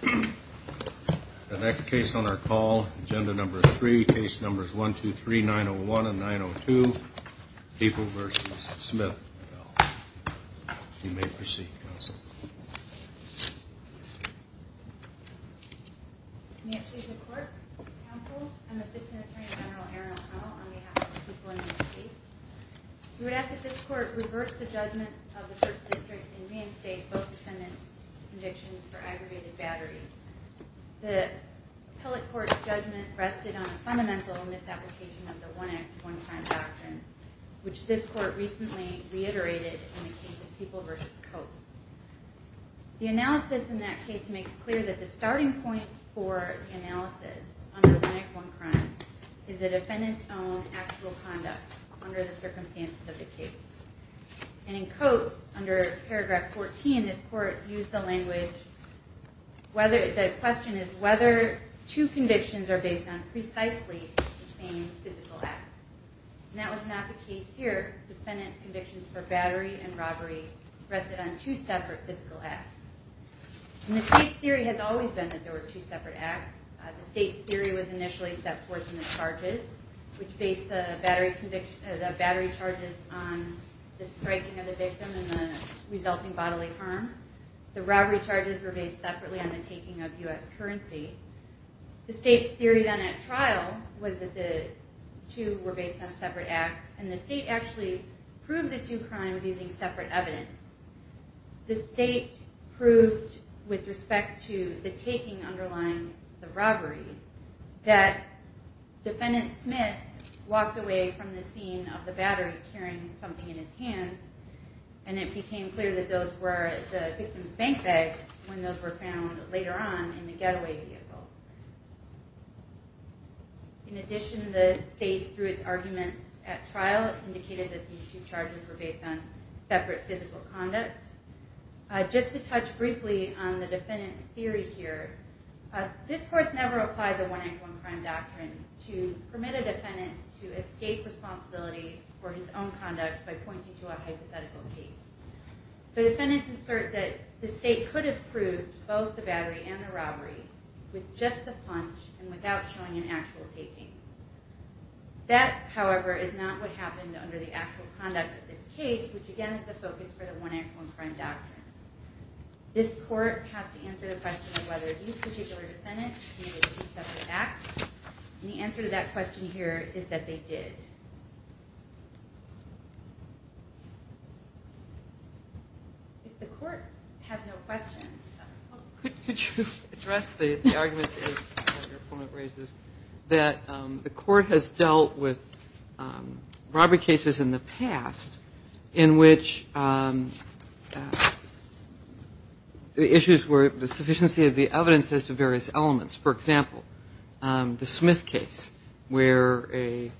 The next case on our call, Agenda Number 3, Case Numbers 1, 2, 3, 9-0-1 and 9-0-2, People v. Smith. You may proceed, Counsel. May it please the Court, Counsel, I'm Assistant Attorney General Erin O'Connell on behalf of the people in this case. We would ask that this Court reverse the judgment of the Church District and reinstate both defendants' convictions for aggravated battery. The Appellate Court's judgment rested on a fundamental misapplication of the One Act, One Crime doctrine, which this Court recently reiterated in the case of People v. Coates. The analysis in that case makes clear that the starting point for the analysis under One Act, One Crime is the defendant's own actual conduct under the circumstances of the case. And in Coates, under Paragraph 14, this Court used the language, the question is whether two convictions are based on precisely the same physical act. And that was not the case here. Defendant's convictions for battery and robbery rested on two separate physical acts. And the State's theory has always been that there were two separate acts. The State's theory was initially set forth in the charges, which based the battery charges on the striking of the victim and the resulting bodily harm. The robbery charges were based separately on the taking of U.S. currency. The State's theory then at trial was that the two were based on separate acts. And the State actually proved the two crimes using separate evidence. The State proved, with respect to the taking underlying the robbery, that Defendant Smith walked away from the scene of the battery carrying something in his hands and it became clear that those were the victim's bank bags when those were found later on in the getaway vehicle. In addition, the State, through its arguments at trial, indicated that these two charges were based on separate physical conduct. Just to touch briefly on the Defendant's theory here, this Court never applied the one-act-one-crime doctrine to permit a defendant to escape responsibility for his own conduct by pointing to a hypothetical case. So defendants assert that the State could have proved both the battery and the robbery with just the plunge and without showing an actual taking. That, however, is not what happened under the actual conduct of this case, which again is the focus for the one-act-one-crime doctrine. This Court has to answer the question of whether these particular defendants committed two separate acts. And the answer to that question here is that they did. If the Court has no questions. Could you address the argument that your opponent raises, that the Court has dealt with robbery cases in the past in which the issues were the sufficiency of the evidence as to various elements. For example, the Smith case where a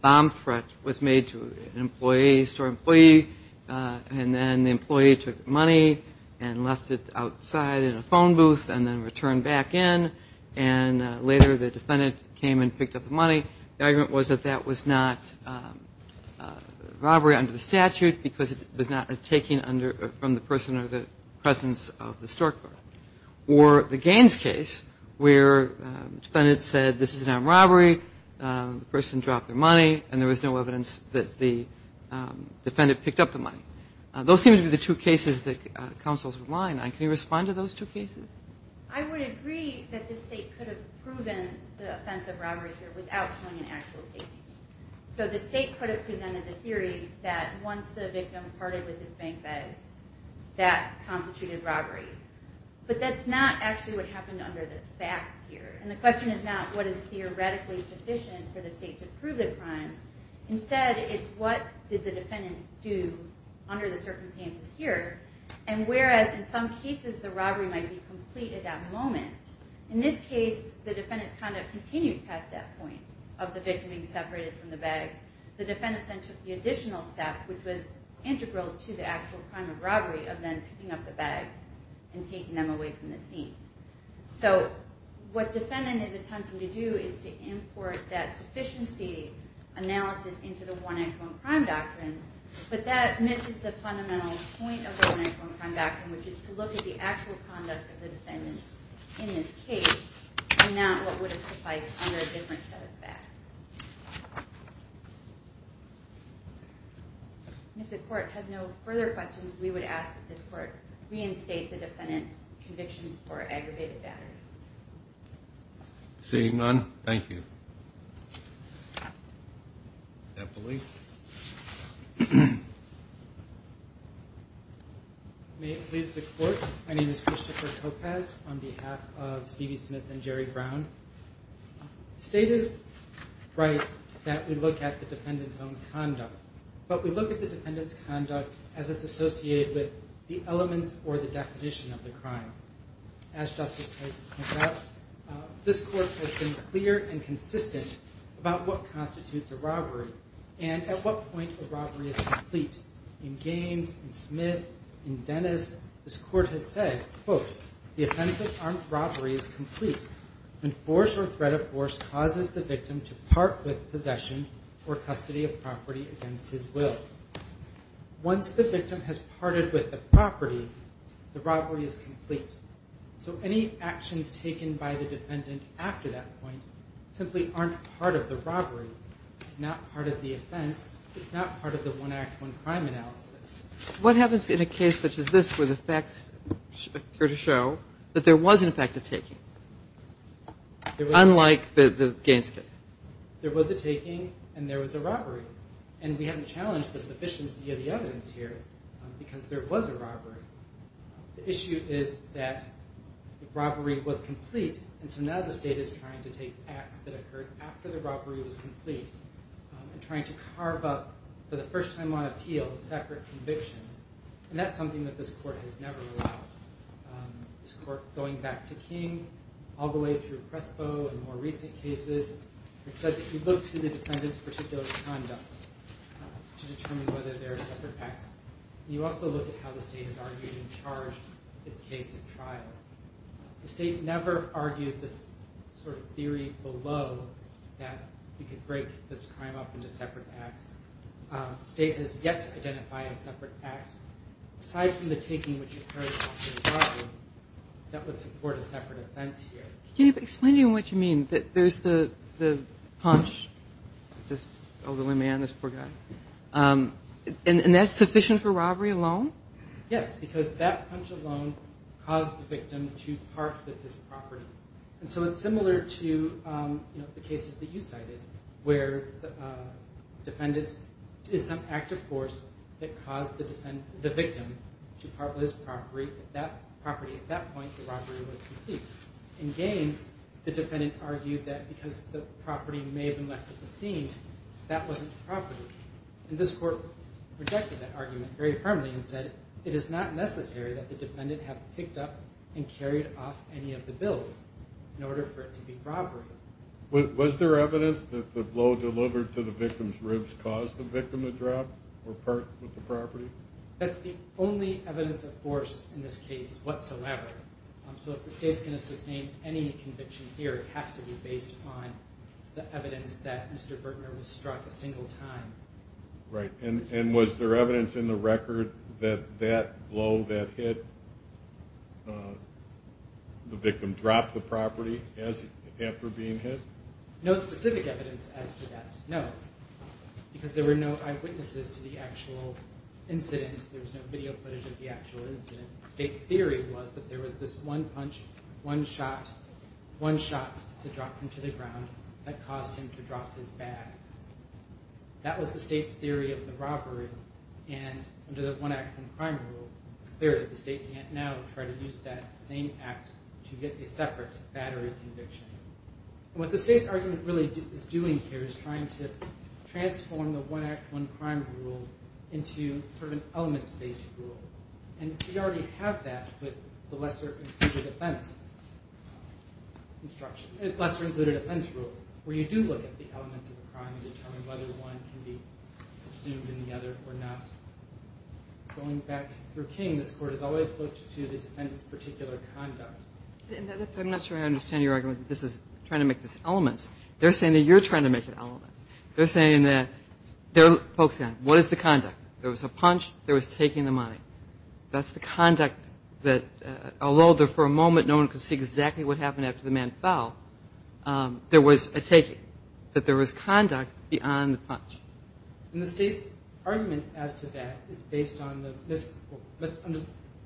bomb threat was made to an employee, store employee, and then the employee took the money and left it outside in a phone booth and then returned back in. And later the defendant came and picked up the money. The argument was that that was not robbery under the statute because it was not a taking from the person or the presence of the store clerk. Or the Gaines case where the defendant said this is not robbery, the person dropped their money, and there was no evidence that the defendant picked up the money. Those seem to be the two cases that counsels rely on. Can you respond to those two cases? I would agree that the State could have proven the offense of robbery here without showing an actual taking. So the State could have presented the theory that once the victim parted with his bank bags, that constituted robbery. But that's not actually what happened under the facts here. And the question is not what is theoretically sufficient for the State to prove the crime. Instead it's what did the defendant do under the circumstances here. And whereas in some cases the robbery might be complete at that moment, in this case the defendant's conduct continued past that point of the victim being separated from the bags. The defendant then took the additional step, which was integral to the actual crime of robbery, of then picking up the bags and taking them away from the scene. So what defendant is attempting to do is to import that sufficiency analysis into the one-act-one-crime doctrine, but that misses the fundamental point of the one-act-one-crime doctrine, which is to look at the actual conduct of the defendant in this case and not what would have sufficed under a different set of facts. If the Court has no further questions, we would ask that this Court reinstate the defendant's convictions for aggravated battery. Seeing none, thank you. Eppley. May it please the Court, my name is Christopher Topaz on behalf of Stevie Smith and Jerry Brown. The State is right that we look at the defendant's own conduct, but we look at the defendant's conduct as it's associated with the elements or the definition of the crime. As Justice Tyson pointed out, this Court has been clear and consistent about what constitutes a robbery and at what point a robbery is complete. In Gaines, in Smith, in Dennis, this Court has said, quote, the offense of armed robbery is complete when force or threat of force causes the victim to part with possession or custody of property against his will. Once the victim has parted with the property, the robbery is complete. So any actions taken by the defendant after that point simply aren't part of the robbery. It's not part of the offense. It's not part of the one act, one crime analysis. What happens in a case such as this where the facts appear to show that there was, in fact, a taking? Unlike the Gaines case. There was a taking and there was a robbery. And we haven't challenged the sufficiency of the evidence here because there was a robbery. The issue is that the robbery was complete, and so now the State is trying to take acts that occurred after the robbery was complete and trying to carve up, for the first time on appeal, separate convictions. And that's something that this Court has never allowed. This Court, going back to King, all the way through Prespo and more recent cases, has said that you look to the defendant's particular conduct to determine whether there are separate acts. You also look at how the State has argued and charged its case in trial. The State never argued this sort of theory below that you could break this crime up into separate acts. The State has yet to identify a separate act, aside from the taking which occurred after the robbery, that would support a separate offense here. Can you explain to me what you mean? There's the punch, this elderly man, this poor guy. And that's sufficient for robbery alone? Yes, because that punch alone caused the victim to part with his property. And so it's similar to the cases that you cited, where the defendant is some active force that caused the victim to part with his property. At that point, the robbery was complete. In Gaines, the defendant argued that because the property may have been left at the scene, that wasn't the property. And this Court rejected that argument very firmly and said, it is not necessary that the defendant have picked up and carried off any of the bills in order for it to be robbery. Was there evidence that the blow delivered to the victim's ribs caused the victim to drop or part with the property? That's the only evidence of force in this case whatsoever. So if the State is going to sustain any conviction here, it has to be based on the evidence that Mr. Bertner was struck a single time. Right. And was there evidence in the record that that blow that hit the victim dropped the property after being hit? No specific evidence as to that, no. Because there were no eyewitnesses to the actual incident. There was no video footage of the actual incident. The State's theory was that there was this one punch, one shot, one shot to drop him to the ground that caused him to drop his bags. That was the State's theory of the robbery. And under the one-act-one-crime rule, it's clear that the State can't now try to use that same act to get a separate battery conviction. What the State's argument really is doing here is trying to transform the one-act-one-crime rule into sort of an elements-based rule. And we already have that with the lesser-included offense rule, where you do look at the elements of a crime and determine whether one can be subsumed in the other or not. Going back through King, this Court has always looked to the defendant's particular conduct. I'm not sure I understand your argument that this is trying to make this elements. They're saying that you're trying to make it elements. They're saying that they're focusing on what is the conduct. There was a punch. There was taking the money. That's the conduct that, although for a moment no one could see exactly what happened after the man fell, there was a taking, that there was conduct beyond the punch. And the State's argument as to that is based on the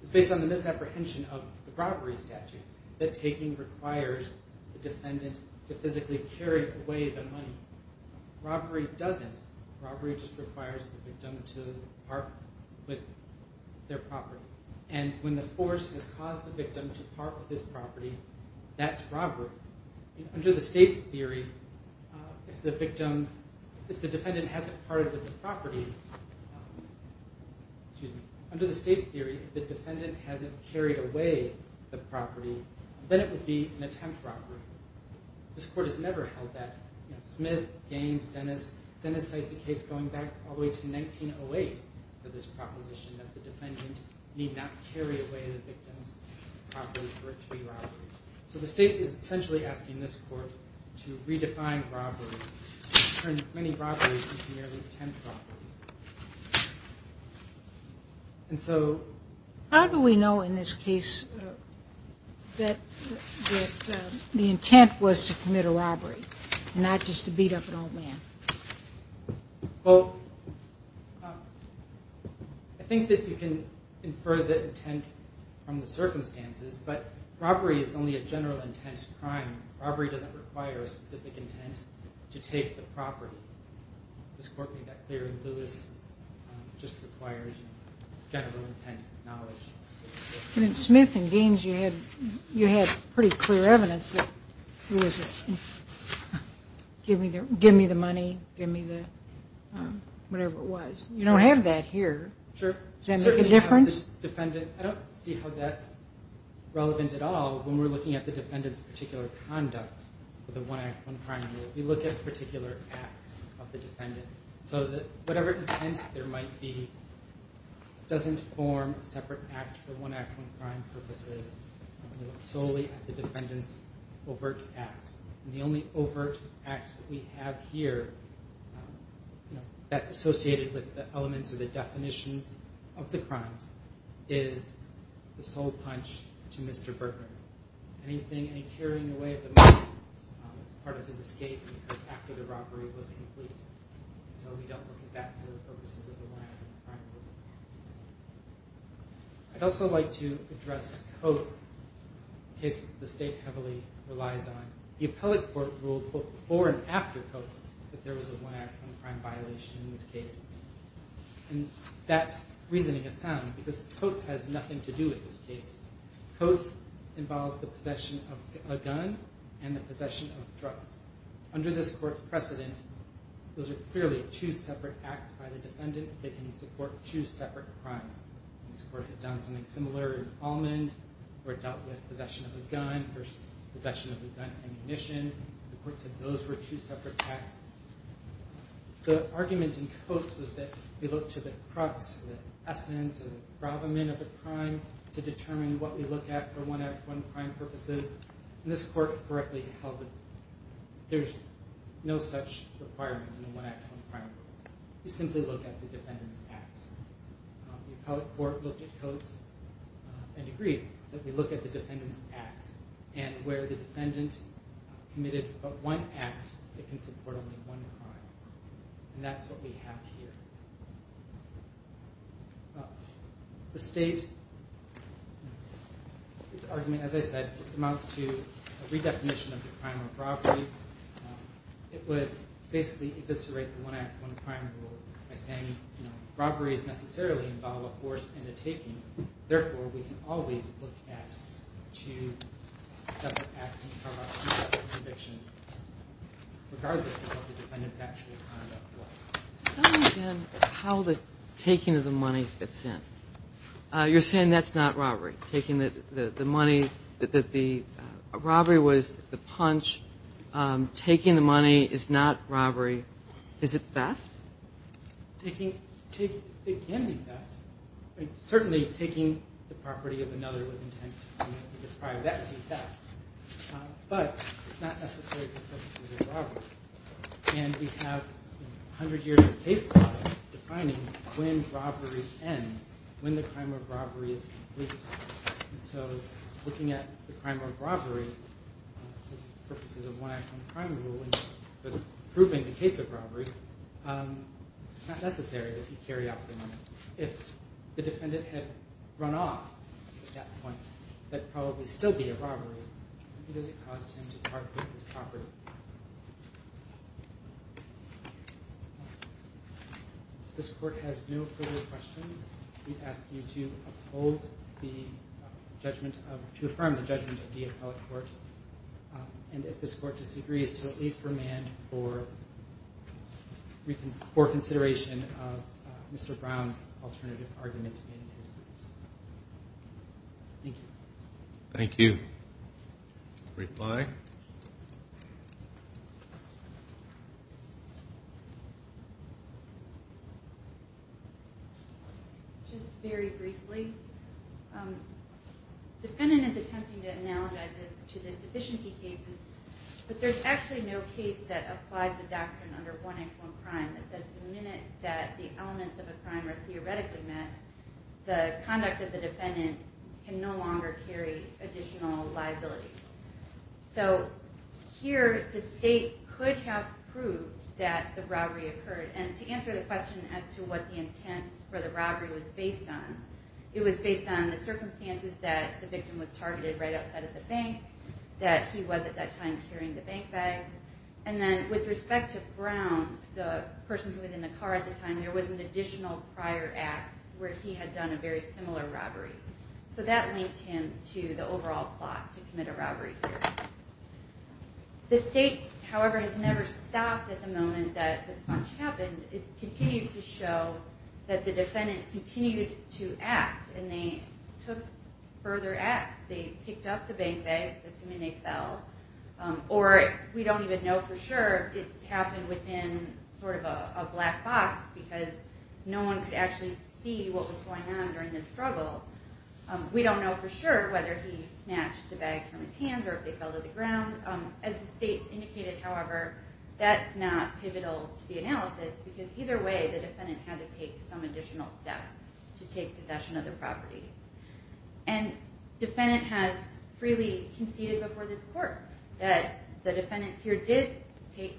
misapprehension of the robbery statute, that taking requires the defendant to physically carry away the money. Robbery doesn't. Robbery just requires the victim to park with their property. And when the force has caused the victim to park with his property, that's robbery. Under the State's theory, if the defendant hasn't parked with the property, excuse me, under the State's theory, if the defendant hasn't carried away the property, then it would be an attempt robbery. This Court has never held that. Smith, Gaines, Dennis, Dennis cites a case going back all the way to 1908 for this proposition that the defendant need not carry away the victim's property for a three robbery. So the State is essentially asking this Court to redefine robbery, to turn many robberies into merely attempt robberies. And so... How do we know in this case that the intent was to commit a robbery, not just to beat up an old man? Well, I think that you can infer the intent from the circumstances, but robbery is only a general intent crime. Robbery doesn't require a specific intent to take the property. This Court made that clear in Lewis. It just requires general intent knowledge. And in Smith and Gaines, you had pretty clear evidence that it was give me the money, give me the whatever it was. You don't have that here. Sure. Does that make a difference? I don't see how that's relevant at all when we're looking at the defendant's particular conduct with the one act, one crime rule. We look at particular acts of the defendant. So whatever intent there might be doesn't form a separate act for one act, one crime purposes. We look solely at the defendant's overt acts. And the only overt act that we have here that's associated with the elements or the definitions of the crimes is the sole punch to Mr. Berger. Anything, any carrying away of the money is part of his escape after the robbery was complete. So we don't look at that for the purposes of the one act crime rule. I'd also like to address Coates, a case the State heavily relies on. The Appellate Court ruled before and after Coates that there was a one act, one crime violation in this case. And that reasoning is sound because Coates has nothing to do with this case. Coates involves the possession of a gun and the possession of drugs. Under this Court's precedent, those are clearly two separate acts by the defendant that can support two separate crimes. This Court had done something similar in Almond, where it dealt with possession of a gun versus possession of a gun and ammunition. The courts said those were two separate acts. The argument in Coates was that we look to the crux, the essence, the gravamen of the crime to determine what we look at for one act, one crime purposes. And this Court correctly held that there's no such requirement in the one act, one crime rule. You simply look at the defendant's acts. The Appellate Court looked at Coates and agreed that we look at the defendant's acts and where the defendant committed but one act, it can support only one crime. And that's what we have here. The State, its argument, as I said, amounts to a redefinition of the crime of robbery. It would basically eviscerate the one act, one crime rule by saying, you know, robberies necessarily involve a force and a taking. Therefore, we can always look at two separate acts and cover up two separate convictions regardless of what the defendant's actual conduct was. Tell me again how the taking of the money fits in. You're saying that's not robbery. Taking the money, that the robbery was the punch. Taking the money is not robbery. Is it theft? It can be theft. Certainly taking the property of another with intent to commit the crime, that would be theft. But it's not necessarily the purposes of robbery. And we have 100 years of case law defining when robbery ends, when the crime of robbery is complete. So looking at the crime of robbery, the purposes of one act, one crime rule, and proving the case of robbery, it's not necessary that you carry out the money. If the defendant had run off at that point, that would probably still be a robbery because it caused him to part with his property. Thank you. If this court has no further questions, we ask you to affirm the judgment of the appellate court. And if this court disagrees, to at least remand for consideration of Mr. Brown's alternative argument in his briefs. Thank you. Thank you. Reply. Just very briefly, the defendant is attempting to analogize this to the sufficiency cases, but there's actually no case that applies the doctrine under one act, one crime that says the minute that the elements of a crime are theoretically met, the conduct of the defendant can no longer carry additional liability. So here the state could have proved that the robbery occurred, and to answer the question as to what the intent for the robbery was based on, it was based on the circumstances that the victim was targeted right outside of the bank, that he was at that time carrying the bank bags, and then with respect to Brown, the person who was in the car at the time, there was an additional prior act where he had done a very similar robbery. So that linked him to the overall plot to commit a robbery here. The state, however, has never stopped at the moment that the punch happened. It's continued to show that the defendants continued to act, and they took further acts. They picked up the bank bags, assuming they fell, or we don't even know for sure, it happened within sort of a black box because no one could actually see what was going on during the struggle. We don't know for sure whether he snatched the bags from his hands or if they fell to the ground. As the state indicated, however, that's not pivotal to the analysis because either way the defendant had to take some additional step to take possession of the property. And the defendant has freely conceded before this court that the defendants here did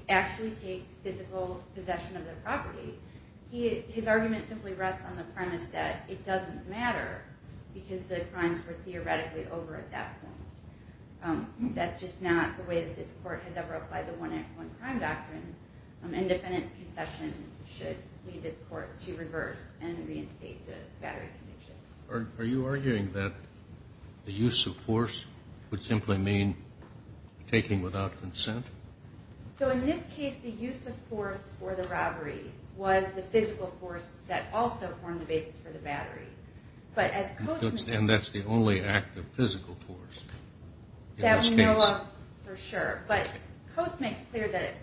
actually take physical possession of the property. His argument simply rests on the premise that it doesn't matter because the crimes were theoretically over at that point. That's just not the way that this court has ever applied the one-act-one-crime doctrine, and defendants' concession should lead this court to reverse and reinstate the battery convictions. Are you arguing that the use of force would simply mean taking without consent? So in this case, the use of force for the robbery was the physical force that also formed the basis for the battery. And that's the only act of physical force in this case. That we know of for sure. But Coates makes clear that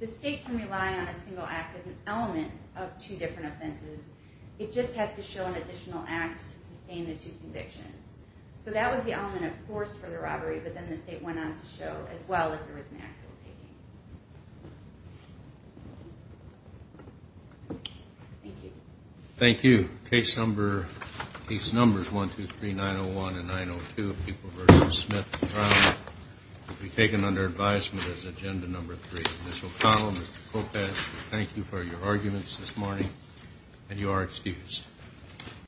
the state can rely on a single act as an element of two different offenses. It just has to show an additional act to sustain the two convictions. So that was the element of force for the robbery, but then the state went on to show, as well, that there was an act of taking. Thank you. Thank you. Case numbers 123901 and 902 of Pupil v. Smith trial will be taken under advisement as agenda number three. Ms. O'Connell and Mr. Coates, thank you for your arguments this morning, and you are excused.